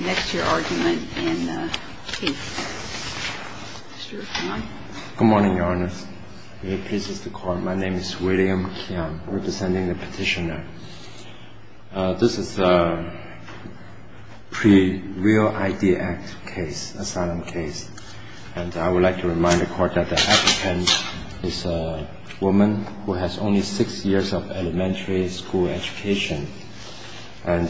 Next your argument in case. Mr. Kian. Good morning, Your Honor. I am pleased to call. My name is William Kian, representing the petitioner. This is a pre-real ID Act case, asylum case. And I would like to remind the Court that the applicant is a woman who has only six years of elementary school education. And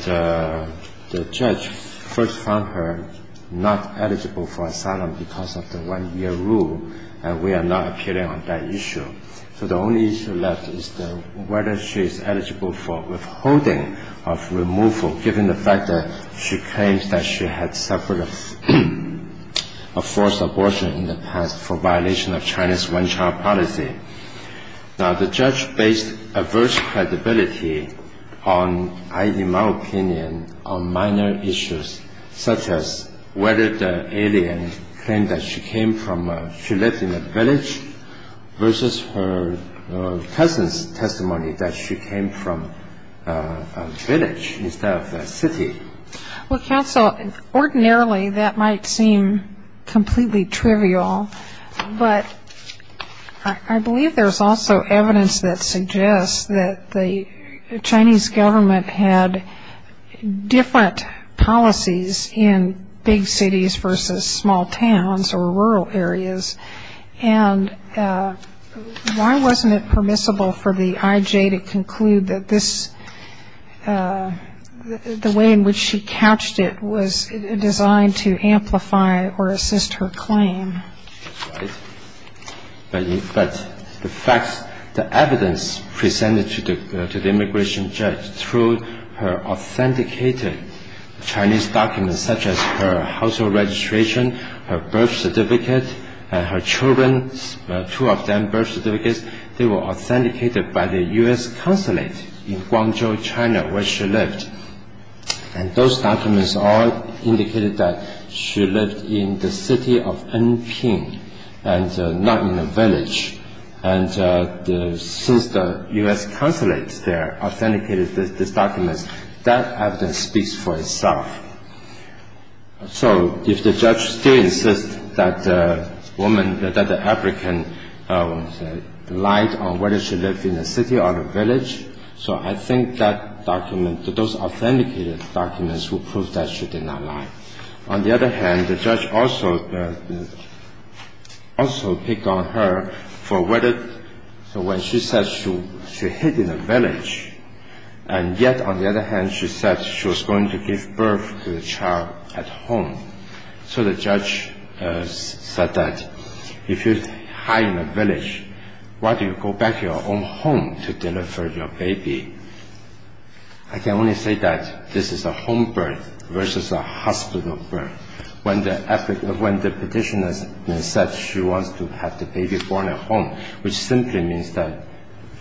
the judge first found her not eligible for asylum because of the one-year rule. And we are not appealing on that issue. So the only issue left is whether she is eligible for withholding of removal, given the fact that she claims that she had suffered a forced abortion in the past for violation of China's one-child policy. Now, the judge based adverse credibility on, in my opinion, on minor issues, such as whether the alien claimed that she came from, she lived in a village, versus her cousin's testimony that she came from a village instead of a city. Well, counsel, ordinarily that might seem completely trivial. But I believe there's also evidence that suggests that the Chinese government had different policies in big cities versus small towns or rural areas. And why wasn't it permissible for the IJ to conclude that this, the way in which she couched it, was designed to amplify or assist her claim? But the facts, the evidence presented to the immigration judge through her authenticated Chinese documents, such as her household registration, her birth certificate, her children, two of them birth certificates, they were authenticated by the U.S. consulate in Guangzhou, China, where she lived. And those documents all indicated that she lived in the city of Anping and not in a village. And since the U.S. consulate there authenticated these documents, that evidence speaks for itself. So if the judge still insists that the woman, that the African lied on whether she lived in a city or a village, so I think that document, those authenticated documents will prove that she did not lie. On the other hand, the judge also picked on her for whether, when she said she hid in a village, and yet on the other hand she said she was going to give birth to the child at home. So the judge said that if you hide in a village, why do you go back to your own home to deliver your baby? I can only say that this is a home birth versus a hospital birth. When the petitioner said she wants to have the baby born at home, which simply means that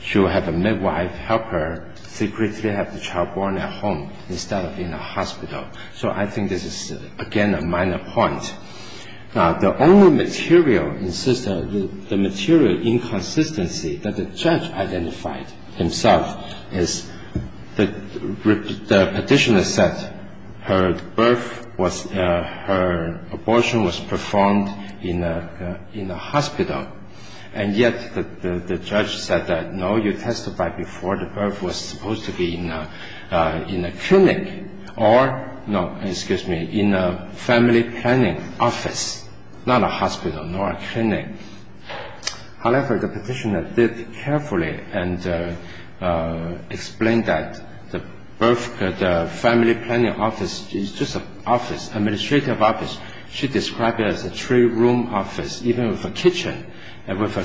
she will have a midwife help her secretly have the child born at home instead of in a hospital. So I think this is, again, a minor point. The only material inconsistency that the judge identified himself is the petitioner said her birth, her abortion was performed in a hospital, and yet the judge said that, no, you testified before the birth was supposed to be in a clinic or in a family planning office, not a hospital nor a clinic. However, the petitioner did carefully explain that the family planning office is just an administrative office. She described it as a three-room office, even with a kitchen, and with a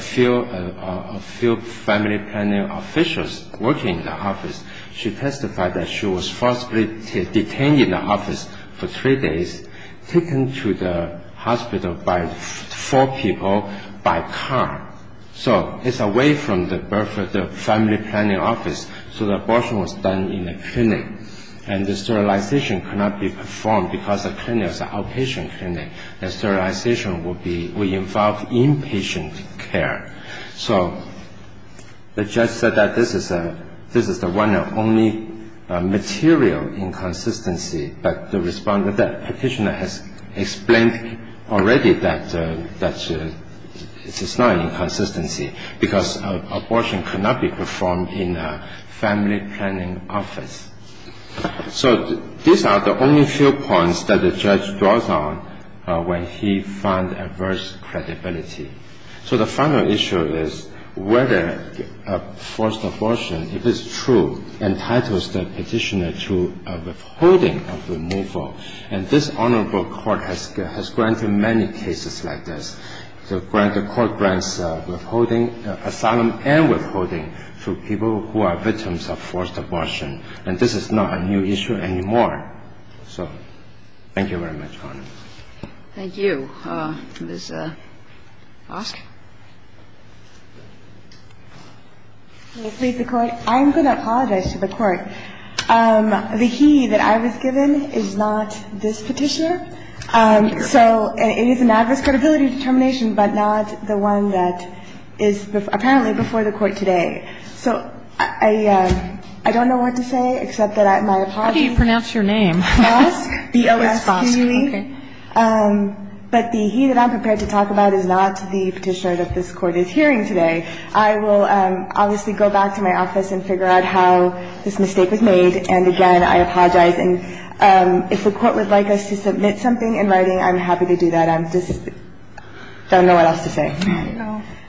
few family planning officials working in the office. She testified that she was forcibly detained in the office for three days, taken to the hospital by four people by car. So it's away from the family planning office, so the abortion was done in a clinic, and the sterilization could not be performed because the clinic was an outpatient clinic, and sterilization would involve inpatient care. So the judge said that this is the one and only material inconsistency, but the respondent, the petitioner, has explained already that it's not an inconsistency because abortion could not be performed in a family planning office. So these are the only few points that the judge draws on when he finds adverse credibility. So the final issue is whether forced abortion, if it's true, entitles the petitioner to withholding of removal, and this honorable court has granted many cases like this. The court grants withholding, asylum and withholding to people who are victims of forced abortion, and this is not a new issue anymore. So thank you very much, Your Honor. Thank you. Ms. Bosk? May it please the Court? I'm going to apologize to the Court. The he that I was given is not this petitioner. So it is an adverse credibility determination, but not the one that is apparently before the Court today. So I don't know what to say, except that my apologies. How do you pronounce your name? Bosk, B-O-S-K-U-E. Okay. But the he that I'm prepared to talk about is not the petitioner that this Court is hearing today. I will obviously go back to my office and figure out how this mistake was made, and again, I apologize. And if the Court would like us to submit something in writing, I'm happy to do that. I just don't know what else to say.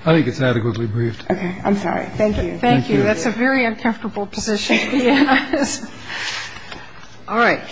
I think it's adequately briefed. Okay. I'm sorry. Thank you. Thank you. That's a very uncomfortable position. Yes. All right.